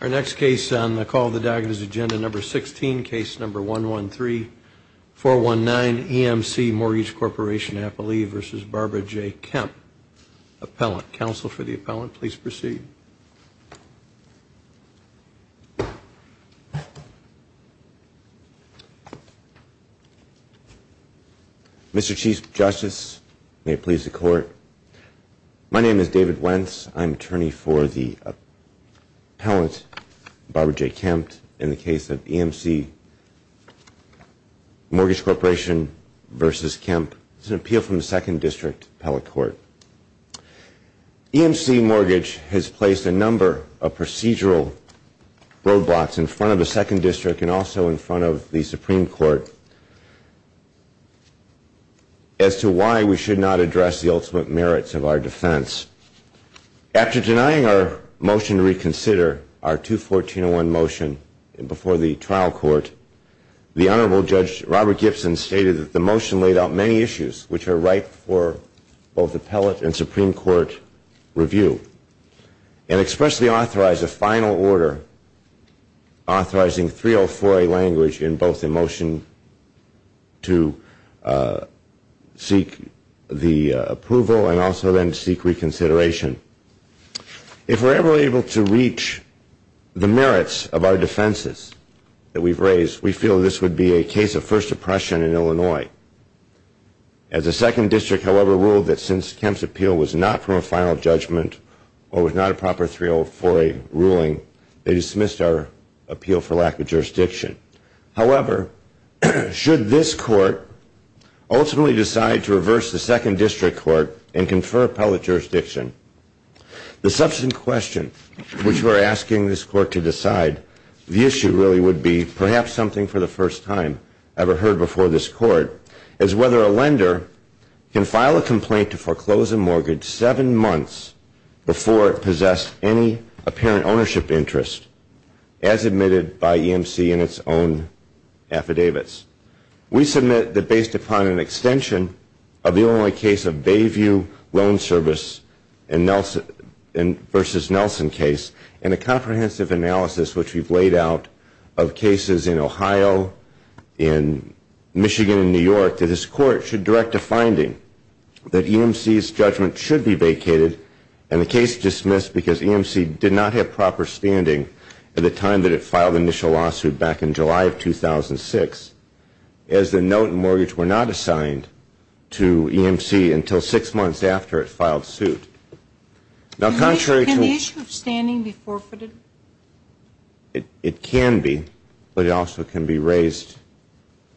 Our next case on the Call of the Diagonal is Agenda No. 16, Case No. 113419, EMC Mortgage Corporation Appellee v. Barbara J. Kemp. Appellant. Counsel for the Appellant, please proceed. Mr. Chief Justice, may it please the Court. My name is David Wentz. I'm attorney for the Appellant, Barbara J. Kemp, in the case of EMC Mortgage Corporation v. Kemp. This is an appeal from the Second District Appellate Court. EMC Mortgage has placed a number of procedural roadblocks in front of the Second District and also in front of the Supreme Court as to why we should not address the ultimate merits of our defense. After denying our motion to reconsider our 214.01 motion before the trial court, the Honorable Judge Robert Gibson stated that the motion laid out many issues which are ripe for both Appellate and Supreme Court review and expressly authorized a final order authorizing 304A language in both the motion to seek the approval and also then seek reconsideration. If we're ever able to reach the merits of our defenses that we've raised, we feel this would be a case of first oppression in Illinois. As the Second District, however, ruled that since Kemp's appeal was not from a final judgment or was not a proper 304A ruling, they dismissed our appeal for lack of jurisdiction. However, should this Court ultimately decide to reverse the Second District Court and confer Appellate jurisdiction, the substantive question which we're asking this Court to decide, the issue really would be perhaps something for the first time ever heard before this Court, is whether a lender can file a complaint to foreclose a mortgage seven months before it possessed any apparent ownership interest, as admitted by EMC in its own affidavits. We submit that based upon an extension of the Illinois case of Bayview Loan Service versus Nelson case and a comprehensive analysis which we've laid out of cases in Ohio, in Michigan and New York, that this Court should direct a finding that EMC's judgment should be vacated and the case dismissed because EMC did not have proper standing at the time that it filed the initial lawsuit back in July of 2006, as the note and mortgage were not assigned to EMC until six months after it filed suit. Now contrary to... Can the issue of standing be forfeited? It can be, but it also can be raised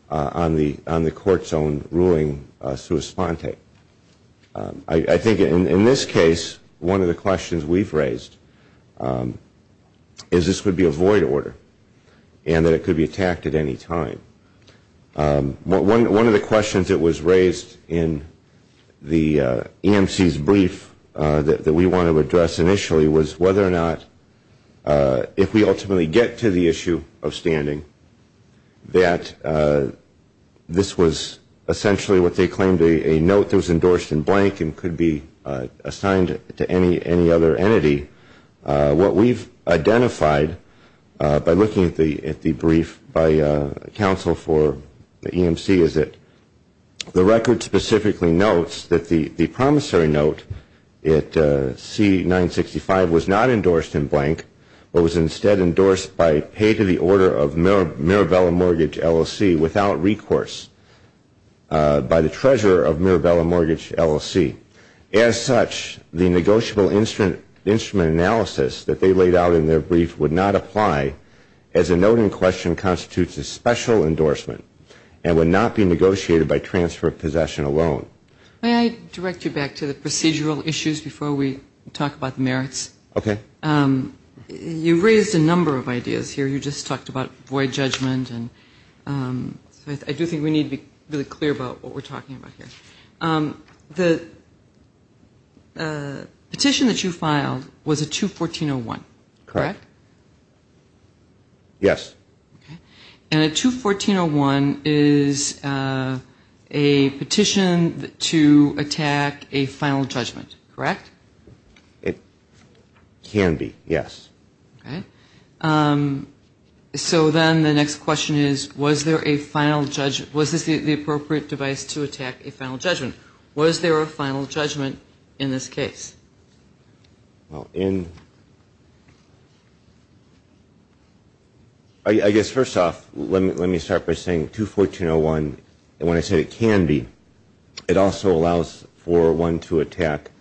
on the Court's own ruling sua sponte. I think in this case, one of the questions we've raised is this could be a void order and that it could be attacked at any time. One of the questions that was raised in the EMC's brief that we want to address initially was whether or not if we ultimately get to the issue of standing, that this was essentially what they claimed a note that was endorsed in blank and could be assigned to any other entity. What we've identified by looking at the brief by counsel for EMC is that the record specifically notes that the promissory note at C-965 was not endorsed in blank, but was instead endorsed by pay to the order of Mirabella Mortgage LLC without recourse by the treasurer of Mirabella Mortgage LLC. As such, the negotiable instrument analysis that they laid out in their brief would not apply as a note in question constitutes a special endorsement and would not be negotiated by transfer of possession alone. May I direct you back to the procedural issues before we talk about the merits? Okay. You raised a number of ideas here. You just talked about void judgment, and I do think we need to be really clear about what we're talking about here. The petition that you filed was a 214-01, correct? Correct. Yes. And a 214-01 is a petition to attack a final judgment, correct? It can be, yes. Okay. So then the next question is, was there a final judgment? Was this the appropriate device to attack a final judgment? Was there a final judgment in this case? I guess first off, let me start by saying 214-01, when I say it can be, it also allows for one to attack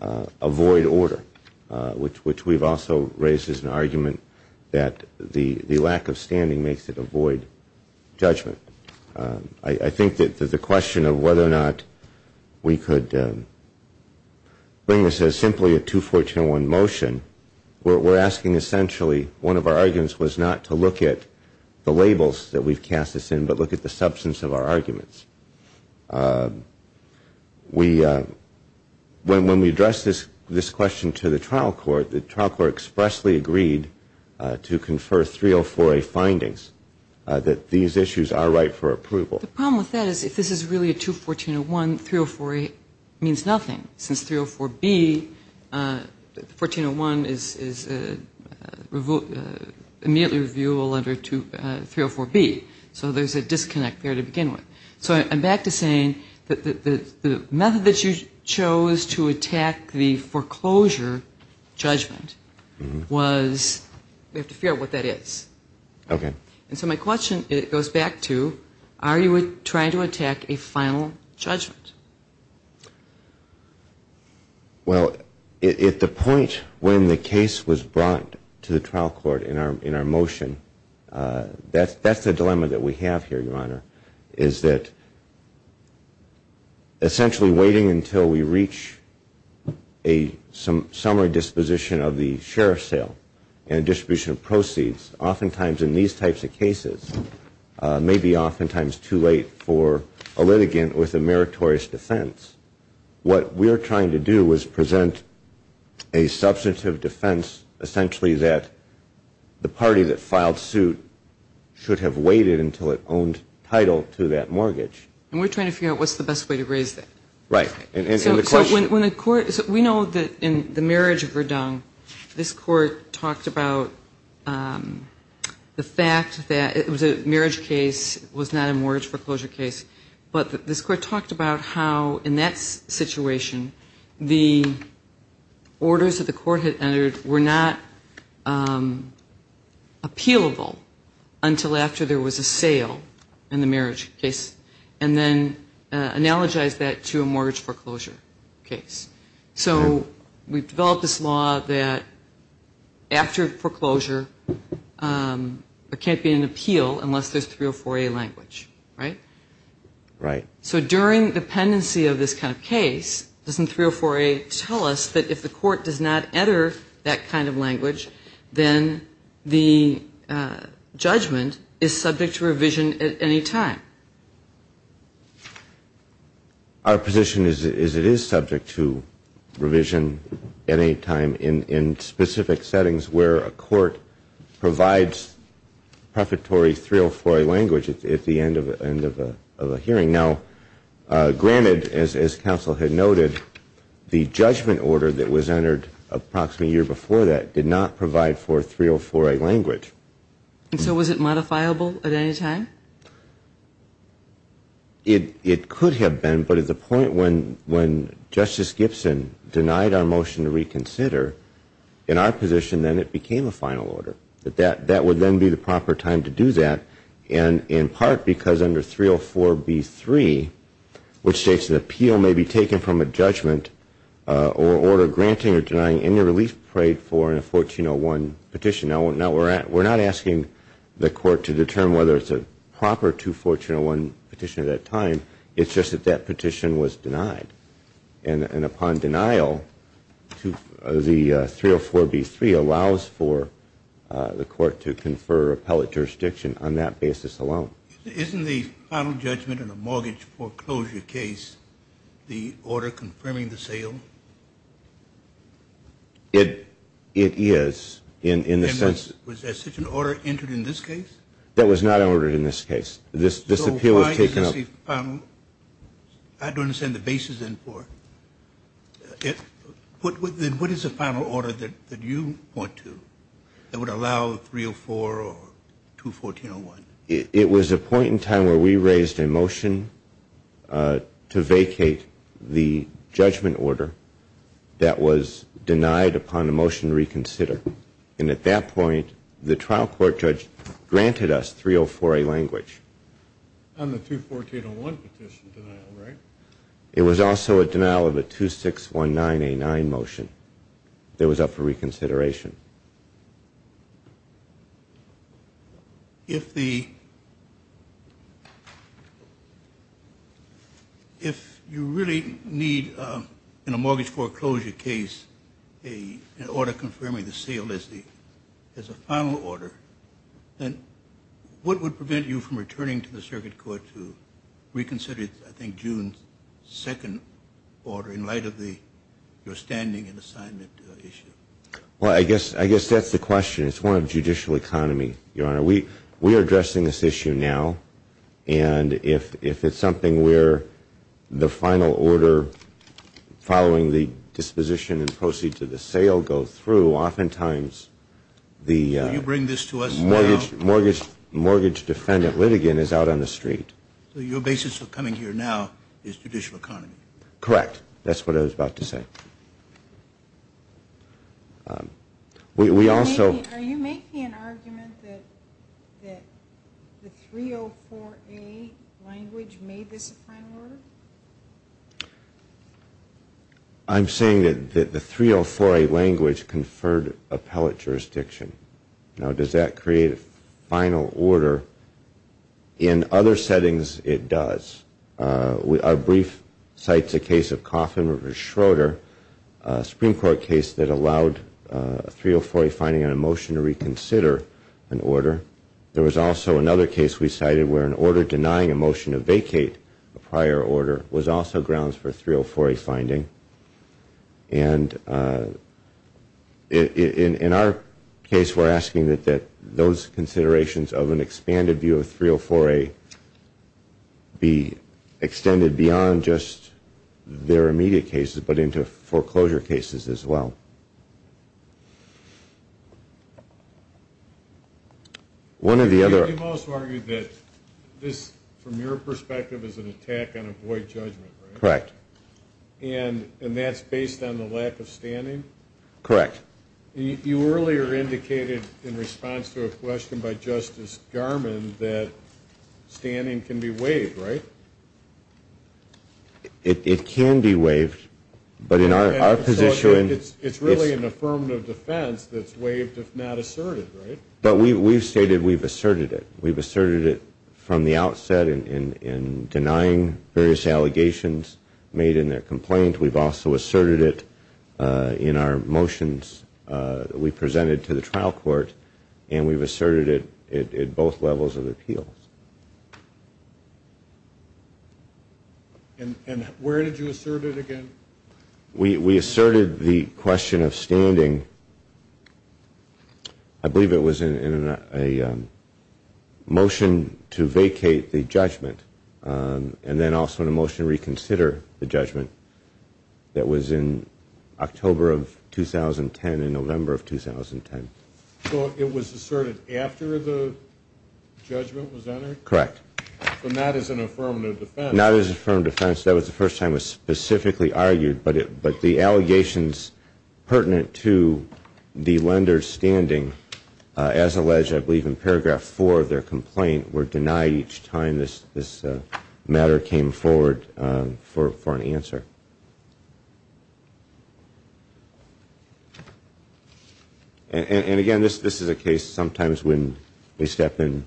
a void order, which we've also raised as an argument that the lack of standing makes it a void judgment. I think that the question of whether or not we could bring this as simply a 214-01 motion, we're asking essentially one of our arguments was not to look at the labels that we've cast this in, but look at the substance of our arguments. When we addressed this question to the trial court, the trial court expressly agreed to confer 304-A findings that these issues are right for approval. The problem with that is if this is really a 214-01, 304-A means nothing. Since 304-B, the 1401 is immediately reviewable under 304-B. So there's a disconnect there to begin with. So I'm back to saying that the method that you chose to attack the foreclosure judgment was, we have to figure out what that is. Okay. And so my question goes back to are you trying to attack a final judgment? Well, at the point when the case was brought to the trial court in our motion, that's the dilemma that we have here, Your Honor, is that essentially waiting until we reach a summary disposition of the sheriff's sale and distribution of proceeds, oftentimes in these types of cases, may be oftentimes too late for a litigant with a meritorious defense. What we're trying to do is present a substantive defense, that the party that filed suit should have waited until it owned title to that mortgage. And we're trying to figure out what's the best way to raise that. Right. So we know that in the marriage of Verdung, this court talked about the fact that it was a marriage case, it was not a mortgage foreclosure case. But this court talked about how in that situation, the orders that the court had entered were not appealable until after there was a sale in the marriage case and then analogized that to a mortgage foreclosure case. So we've developed this law that after foreclosure, there can't be an appeal unless there's 304A language, right? Right. So during the pendency of this kind of case, doesn't 304A tell us that if the court does not enter that kind of language, then the judgment is subject to revision at any time? Our position is it is subject to revision at any time in specific settings where a court provides prefatory 304A language at the end of a hearing. Now, granted, as counsel had noted, the judgment order that was entered approximately a year before that did not provide for 304A language. And so was it modifiable at any time? It could have been, but at the point when Justice Gibson denied our motion to reconsider, in our position, then it became a final order. That would then be the proper time to do that, in part because under 304B3, which states an appeal may be taken from a judgment or order granting or denying any relief paid for in a 1401 petition. Now, we're not asking the court to determine whether it's a proper 2401 petition at that time. It's just that that petition was denied. And upon denial, the 304B3 allows for the court to confer appellate jurisdiction on that basis alone. Isn't the final judgment in a mortgage foreclosure case the order confirming the sale? It is. Was there such an order entered in this case? That was not ordered in this case. This appeal was taken up. I don't understand the basis in part. What is the final order that you point to that would allow 304 or 21401? It was a point in time where we raised a motion to vacate the judgment order that was denied upon a motion to reconsider. And at that point, the trial court judge granted us 304A language. On the 21401 petition denial, right? It was also a denial of a 2619A9 motion that was up for reconsideration. If you really need in a mortgage foreclosure case an order confirming the sale as a final order, then what would prevent you from returning to the circuit court to reconsider, I think, June 2nd order in light of your standing and assignment issue? Well, I guess that's the question. It's one of judicial economy, Your Honor. We are addressing this issue now. And if it's something where the final order following the disposition and proceed to the sale go through, oftentimes the mortgage defendant litigant is out on the street. So your basis for coming here now is judicial economy? Correct. That's what I was about to say. Are you making an argument that the 304A language made this a final order? I'm saying that the 304A language conferred appellate jurisdiction. Now, does that create a final order? In other settings, it does. Our brief cites a case of Coffin v. Schroeder, a Supreme Court case that allowed a 304A finding on a motion to reconsider an order. There was also another case we cited where an order denying a motion to vacate a prior order And in our case, we're asking that those considerations of an expanded view of 304A be extended beyond just their immediate cases but into foreclosure cases as well. One of the other – You've also argued that this, from your perspective, is an attack on avoid judgment, right? Correct. And that's based on the lack of standing? Correct. You earlier indicated, in response to a question by Justice Garmon, that standing can be waived, right? It can be waived, but in our position – So it's really an affirmative defense that's waived if not asserted, right? But we've stated we've asserted it. We've asserted it from the outset in denying various allegations made in their complaint. We've also asserted it in our motions we presented to the trial court, and we've asserted it at both levels of appeals. And where did you assert it again? We asserted the question of standing, I believe it was in a motion to vacate the judgment and then also in a motion to reconsider the judgment that was in October of 2010 and November of 2010. So it was asserted after the judgment was entered? Correct. So not as an affirmative defense? Not as an affirmative defense. That was the first time it was specifically argued, but the allegations pertinent to the lender's standing, as alleged I believe in paragraph four of their complaint, were denied each time this matter came forward for an answer. And again, this is a case sometimes when we step in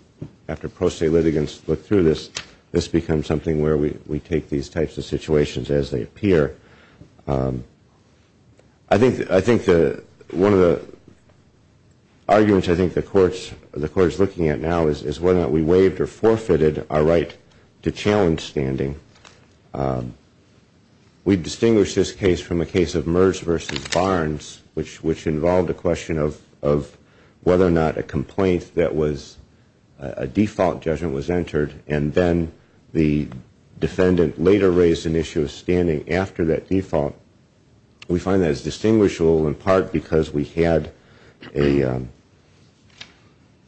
after pro se litigants look through this, this becomes something where we take these types of situations as they appear. I think one of the arguments I think the Court is looking at now is whether or not we waived or forfeited our right to challenge standing. We've distinguished this case from a case of Merz v. Barnes, which involved a question of whether or not a complaint that was a default judgment was entered and then the defendant later raised an issue of standing after that default. We find that as distinguishable in part because we had a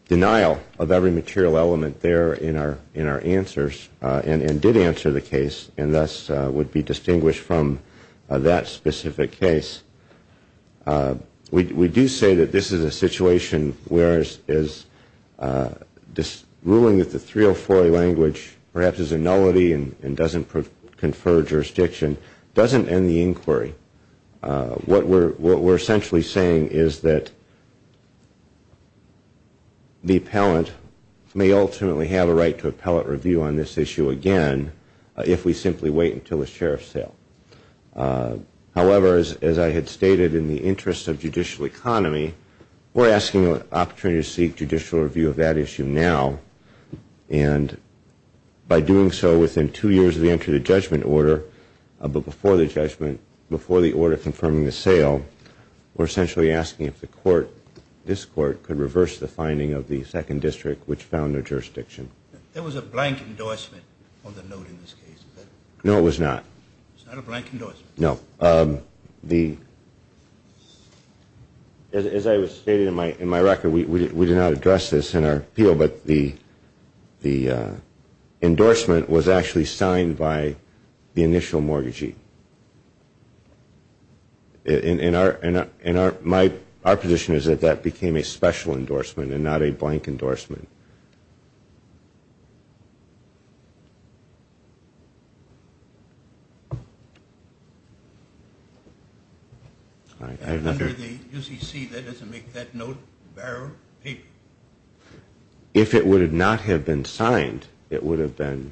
denial of every material element there in our answers and did answer the case and thus would be distinguished from that specific case. We do say that this is a situation where ruling that the 304A language perhaps is a nullity and doesn't confer jurisdiction doesn't end the inquiry. What we're essentially saying is that the appellant may ultimately have a right to appellate review on this issue again if we simply wait until the sheriff's sale. However, as I had stated, in the interest of judicial economy, we're asking an opportunity to seek judicial review of that issue now and by doing so within two years of the entry of the judgment order, but before the judgment, before the order confirming the sale, we're essentially asking if the Court, this Court, could reverse the finding of the second district which found no jurisdiction. There was a blank endorsement on the note in this case. No, it was not. It's not a blank endorsement. No. As I stated in my record, we did not address this in our appeal, but the endorsement was actually signed by the initial mortgagee. And our position is that that became a special endorsement and not a blank endorsement. Under the UCC, that doesn't make that note bearer paper. If it would not have been signed, it would have been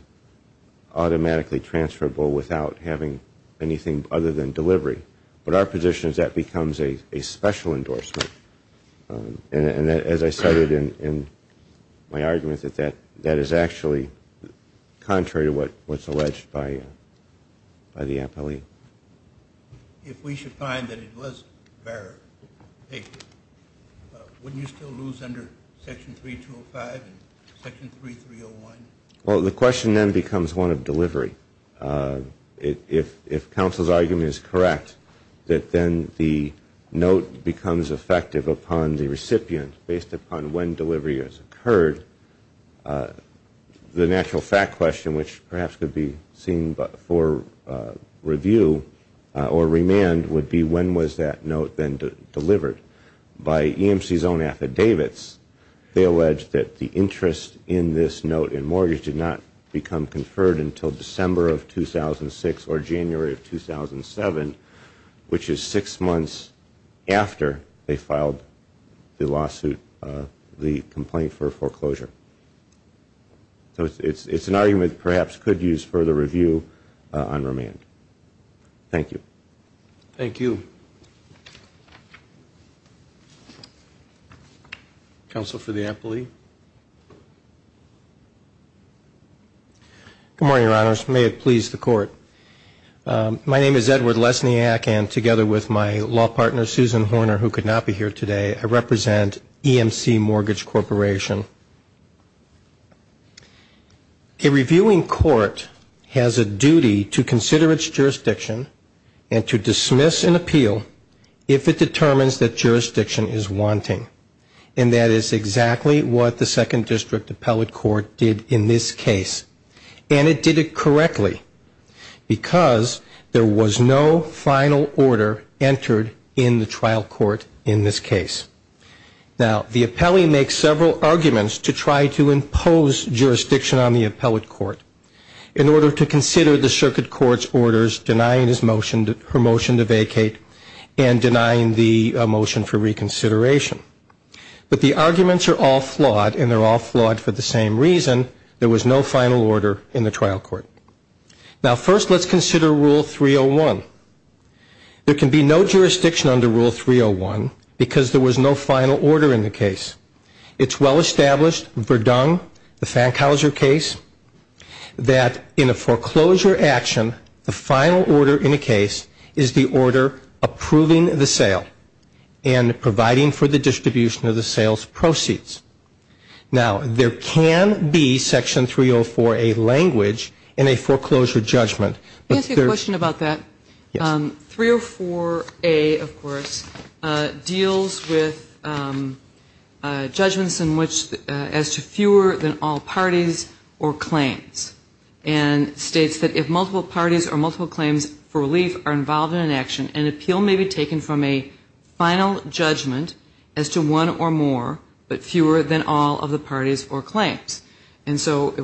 automatically transferable without having anything other than delivery. But our position is that becomes a special endorsement. And as I cited in my argument, that is actually contrary to what's alleged by the appellee. If we should find that it was bearer paper, wouldn't you still lose under Section 3205 and Section 3301? Well, the question then becomes one of delivery. If counsel's argument is correct, that then the note becomes effective upon the recipient based upon when delivery has occurred, the natural fact question, which perhaps could be seen for review or remand, would be when was that note then delivered. By EMC's own affidavits, they allege that the interest in this note in mortgage did not become conferred until December of 2006 or January of 2007, which is six months after they filed the lawsuit, the complaint for foreclosure. So it's an argument that perhaps could use further review on remand. Thank you. Thank you. Counsel for the appellee. Good morning, Your Honors. May it please the Court. My name is Edward Lesniak, and together with my law partner, Susan Horner, who could not be here today, I represent EMC Mortgage Corporation. A reviewing court has a duty to consider its jurisdiction and to dismiss an appeal if it determines that jurisdiction is wanting, and that is exactly what the Second District Appellate Court did in this case. And it did it correctly because there was no final order entered in the trial court in this case. Now, the appellee makes several arguments to try to impose jurisdiction on the appellate court in order to consider the circuit court's orders denying her motion to vacate and denying the motion for reconsideration. But the arguments are all flawed, and they're all flawed for the same reason. There was no final order in the trial court. Now, first let's consider Rule 301. There can be no jurisdiction under Rule 301 because there was no final order in the case. It's well established, Verdun, the Fankhauser case, that in a foreclosure action, the final order in a case is the order approving the sale and providing for the distribution of the sales proceeds. Now, there can be, Section 304, a language in a foreclosure judgment. Can I ask you a question about that? Yes. 304A, of course, deals with judgments in which as to fewer than all parties or claims and states that if multiple parties or multiple claims for relief are involved in an action, an appeal may be taken from a final judgment as to one or more but fewer than all of the parties or claims. And so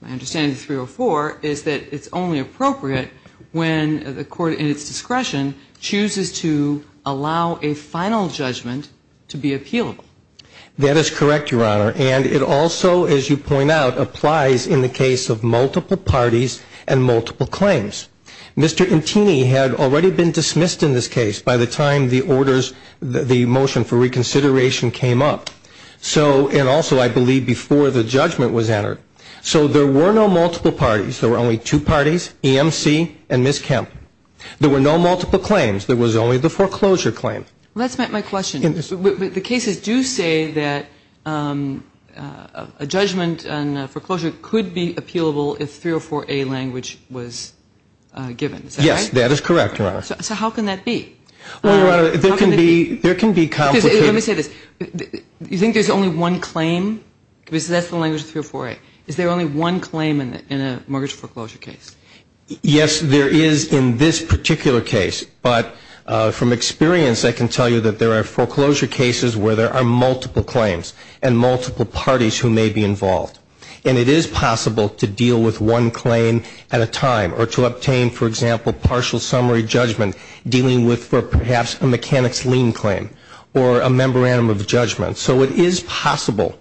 my understanding of 304 is that it's only appropriate when the court in its discretion chooses to allow a final judgment to be appealable. That is correct, Your Honor. And it also, as you point out, applies in the case of multiple parties and multiple claims. Mr. Antini had already been dismissed in this case by the time the orders, the motion for reconsideration came up. And also, I believe, before the judgment was entered. So there were no multiple parties. There were only two parties, EMC and Ms. Kemp. There were no multiple claims. There was only the foreclosure claim. Well, that's not my question. The cases do say that a judgment on foreclosure could be appealable if 304A language was given. Is that right? Yes, that is correct, Your Honor. So how can that be? Well, Your Honor, there can be complicated. Let me say this. You think there's only one claim? Because that's the language of 304A. Is there only one claim in a mortgage foreclosure case? Yes, there is in this particular case. But from experience, I can tell you that there are foreclosure cases where there are multiple claims and multiple parties who may be involved. And it is possible to deal with one claim at a time or to obtain, for example, partial summary judgment dealing with perhaps a mechanic's lien claim or a memorandum of judgment. So it is possible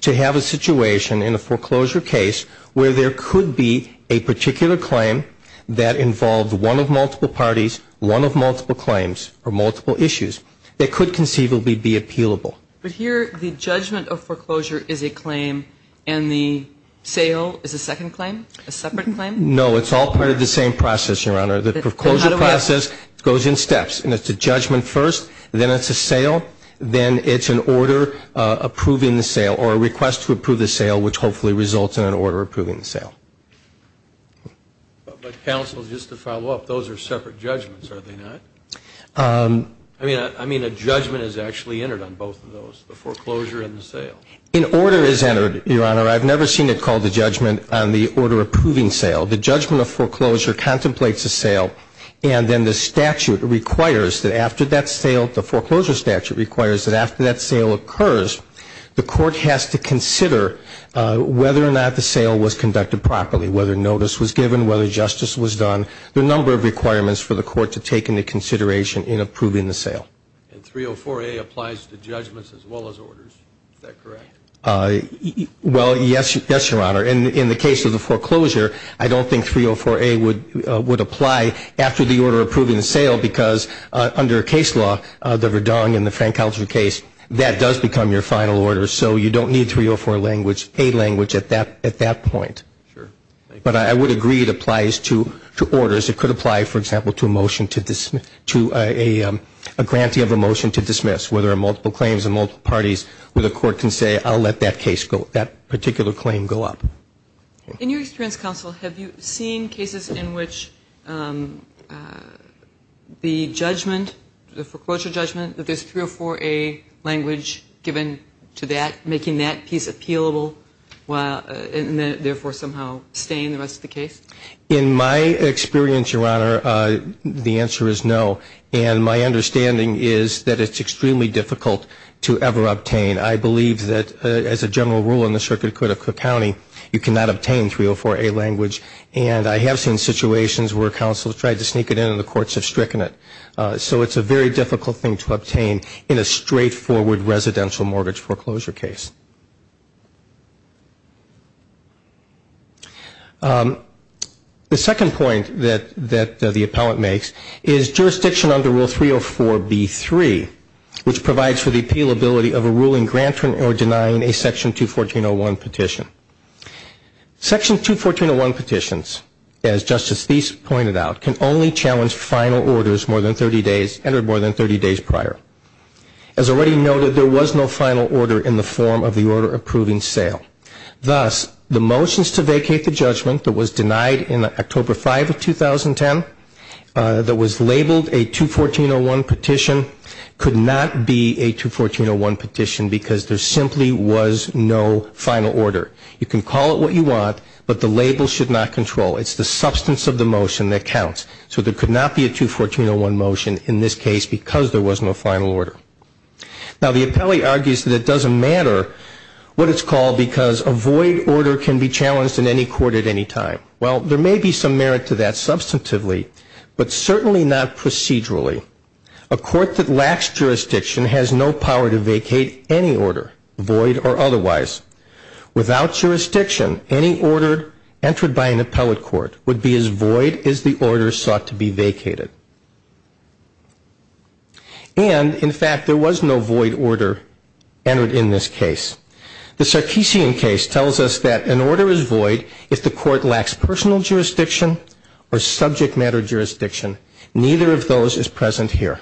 to have a situation in a foreclosure case where there could be a particular claim that involved one of multiple parties, one of multiple claims or multiple issues that could conceivably be appealable. But here the judgment of foreclosure is a claim and the sale is a second claim, a separate claim? No, it's all part of the same process, Your Honor. The foreclosure process goes in steps, and it's a judgment first, then it's a sale, then it's an order approving the sale or a request to approve the sale, which hopefully results in an order approving the sale. But, counsel, just to follow up, those are separate judgments, are they not? I mean, a judgment is actually entered on both of those, the foreclosure and the sale. An order is entered, Your Honor. I've never seen it called a judgment on the order approving sale. The judgment of foreclosure contemplates a sale, and then the statute requires that after that sale, the foreclosure statute requires that after that sale occurs the court has to consider whether or not the sale was conducted properly, whether notice was given, whether justice was done. There are a number of requirements for the court to take into consideration in approving the sale. And 304A applies to judgments as well as orders. Is that correct? Well, yes, Your Honor. And in the case of the foreclosure, I don't think 304A would apply after the order approving the sale because under a case law, the Verdung and the Frank Coucher case, that does become your final order. So you don't need 304A language at that point. Sure. But I would agree it applies to orders. It could apply, for example, to a motion to a grantee of a motion to dismiss, where there are multiple claims and multiple parties where the court can say, I'll let that case go, that particular claim go up. In your experience, Counsel, have you seen cases in which the judgment, the foreclosure judgment, that there's 304A language given to that making that piece appealable and therefore somehow staying the rest of the case? In my experience, Your Honor, the answer is no. And my understanding is that it's extremely difficult to ever obtain. I believe that as a general rule in the circuit court of Cook County, you cannot obtain 304A language. And I have seen situations where counsel has tried to sneak it in and the courts have stricken it. So it's a very difficult thing to obtain in a straightforward residential mortgage foreclosure case. The second point that the appellant makes is jurisdiction under Rule 304B3, which provides for the appealability of a ruling granting or denying a Section 214.01 petition. Section 214.01 petitions, as Justice Thies pointed out, can only challenge final orders more than 30 days, entered more than 30 days prior. As already noted, there was no final order in the form of the order approving sale. Thus, the motions to vacate the judgment that was denied in October 5, 2010, that was labeled a 214.01 petition could not be a 214.01 petition because there simply was no final order. You can call it what you want, but the label should not control. So there could not be a 214.01 motion in this case because there was no final order. Now, the appellee argues that it doesn't matter what it's called because a void order can be challenged in any court at any time. Well, there may be some merit to that substantively, but certainly not procedurally. A court that lacks jurisdiction has no power to vacate any order, void or otherwise. Without jurisdiction, any order entered by an appellate court would be as void as the order sought to be vacated. And, in fact, there was no void order entered in this case. The Sarkeesian case tells us that an order is void if the court lacks personal jurisdiction or subject matter jurisdiction. Neither of those is present here.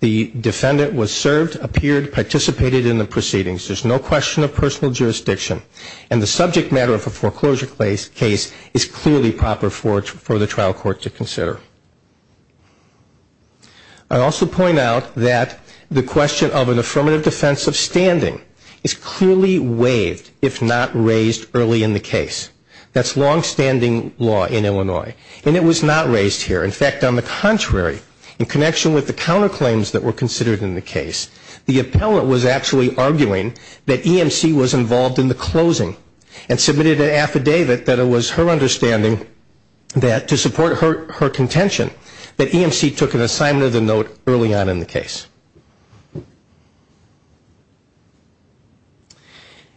The defendant was served, appeared, participated in the proceedings. There's no question of personal jurisdiction, and the subject matter of a foreclosure case is clearly proper for the trial court to consider. I also point out that the question of an affirmative defense of standing is clearly waived if not raised early in the case. That's longstanding law in Illinois, and it was not raised here. In fact, on the contrary, in connection with the counterclaims that were considered in the case, the appellate was actually arguing that EMC was involved in the closing and submitted an affidavit that it was her understanding that to support her contention that EMC took an assignment of the note early on in the case.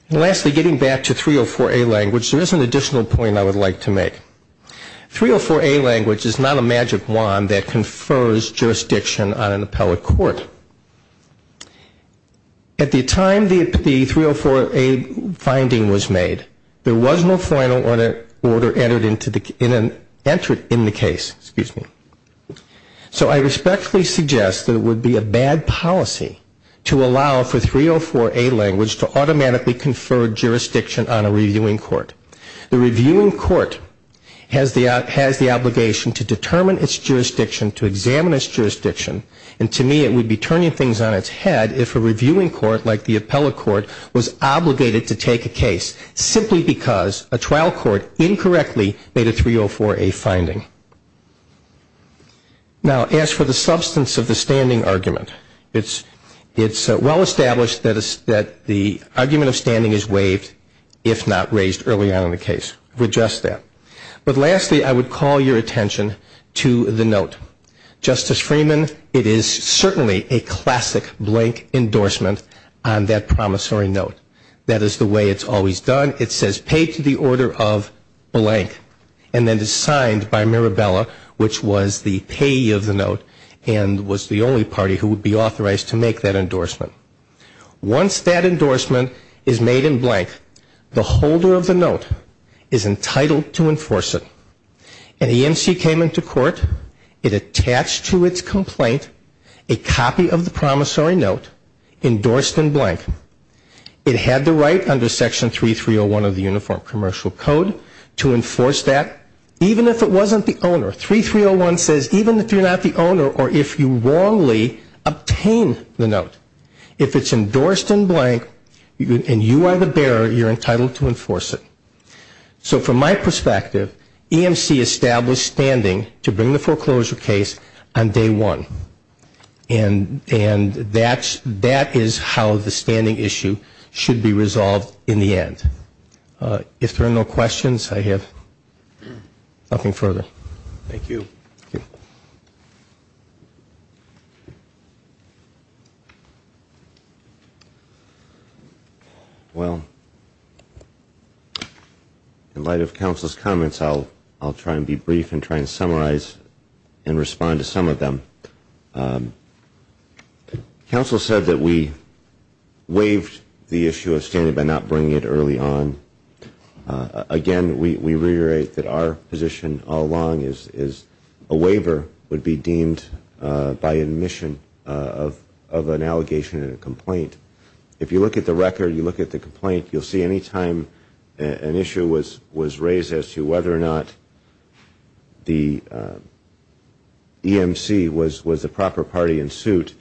And lastly, getting back to 304A language, there is an additional point I would like to make. 304A language is not a magic wand that confers jurisdiction on an appellate court. At the time the 304A finding was made, there was no final order entered in the case. So I respectfully suggest that it would be a bad policy to allow for 304A language to automatically confer jurisdiction on a reviewing court. The reviewing court has the obligation to determine its jurisdiction, to examine its jurisdiction, and to me it would be turning things on its head if a reviewing court like the appellate court was obligated to take a case simply because a trial court incorrectly made a 304A finding. Now as for the substance of the standing argument, it's well established that the argument of standing is waived if not raised early on in the case. I would suggest that. But lastly, I would call your attention to the note. Justice Freeman, it is certainly a classic blank endorsement on that promissory note. That is the way it's always done. It says paid to the order of blank and then it's signed by Mirabella, which was the payee of the note and was the only party who would be authorized to make that endorsement. Once that endorsement is made in blank, the holder of the note is entitled to enforce it. An EMC came into court, it attached to its complaint a copy of the promissory note endorsed in blank. It had the right under Section 3301 of the Uniform Commercial Code to enforce that, even if it wasn't the owner. 3301 says even if you're not the owner or if you wrongly obtain the note, if it's endorsed in blank and you are the bearer, you're entitled to enforce it. So from my perspective, EMC established standing to bring the foreclosure case on day one. And that is how the standing issue should be resolved in the end. If there are no questions, I have nothing further. Thank you. Well, in light of counsel's comments, I'll try and be brief and try and summarize and respond to some of them. Counsel said that we waived the issue of standing by not bringing it early on. Again, we reiterate that our position all along is a waiver would be deemed by admission of an allegation and a complaint. If you look at the record, you look at the complaint, you'll see any time an issue was raised as to whether or not the EMC was the proper party in suit,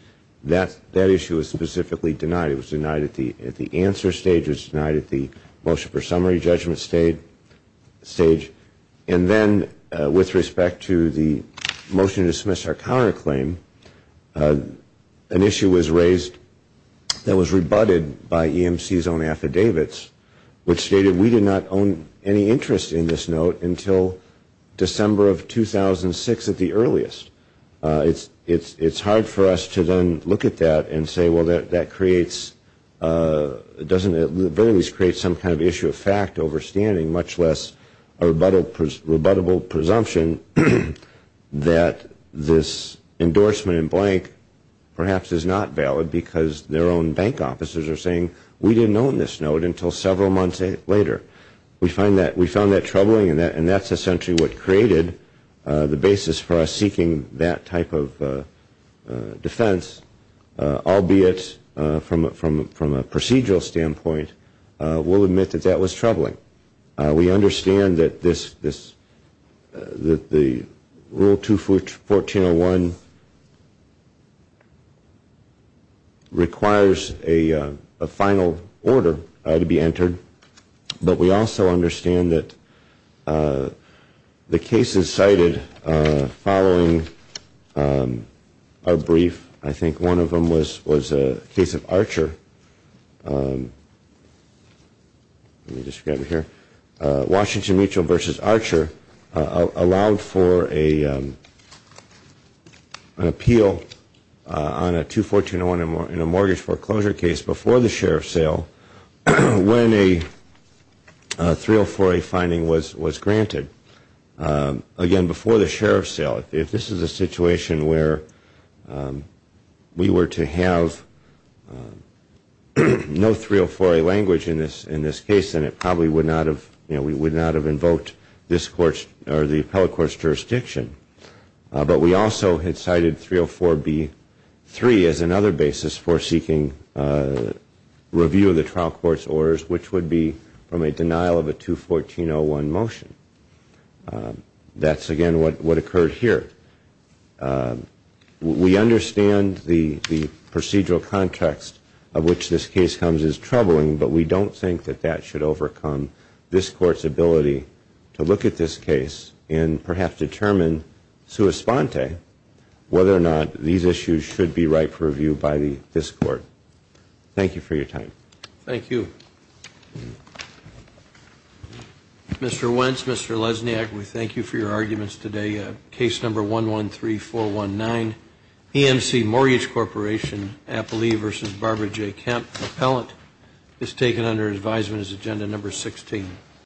that issue was specifically denied. It was denied at the answer stage, it was denied at the motion for summary judgment stage. And then with respect to the motion to dismiss our counterclaim, an issue was raised that was rebutted by EMC's own affidavits, which stated we did not own any interest in this note until December of 2006 at the earliest. It's hard for us to then look at that and say, well, that creates, doesn't it, at the very least create some kind of issue of fact over standing, much less a rebuttable presumption that this endorsement in blank perhaps is not valid because their own bank officers are saying we didn't own this note until several months later. We found that troubling and that's essentially what created the basis for us seeking that type of defense, albeit from a procedural standpoint, we'll admit that that was troubling. We understand that this, that the Rule 214.01 requires a final order to be entered, but we don't see it as a final order. We also understand that the cases cited following our brief, I think one of them was a case of Archer. Let me just grab it here. Washington Mutual v. Archer allowed for an appeal on a 214.01 in a mortgage foreclosure case before the sheriff's sale 304A finding was granted. Again, before the sheriff's sale, if this is a situation where we were to have no 304A language in this case, then it probably would not have, you know, we would not have invoked this court's or the appellate court's jurisdiction. But we also had cited 304B.3 as another basis for seeking review of the trial court's orders, which would be from a denial of a 214.01 motion. That's, again, what occurred here. We understand the procedural context of which this case comes as troubling, but we don't think that that should overcome this court's ability to look at this case and perhaps determine sui sponte whether or not these issues should be right for review by this court. Mr. Wentz, Mr. Lesniak, we thank you for your arguments today. Case number 113419, EMC Mortgage Corporation, Appalee v. Barbara J. Kemp, appellant is taken under advisement as agenda number 16.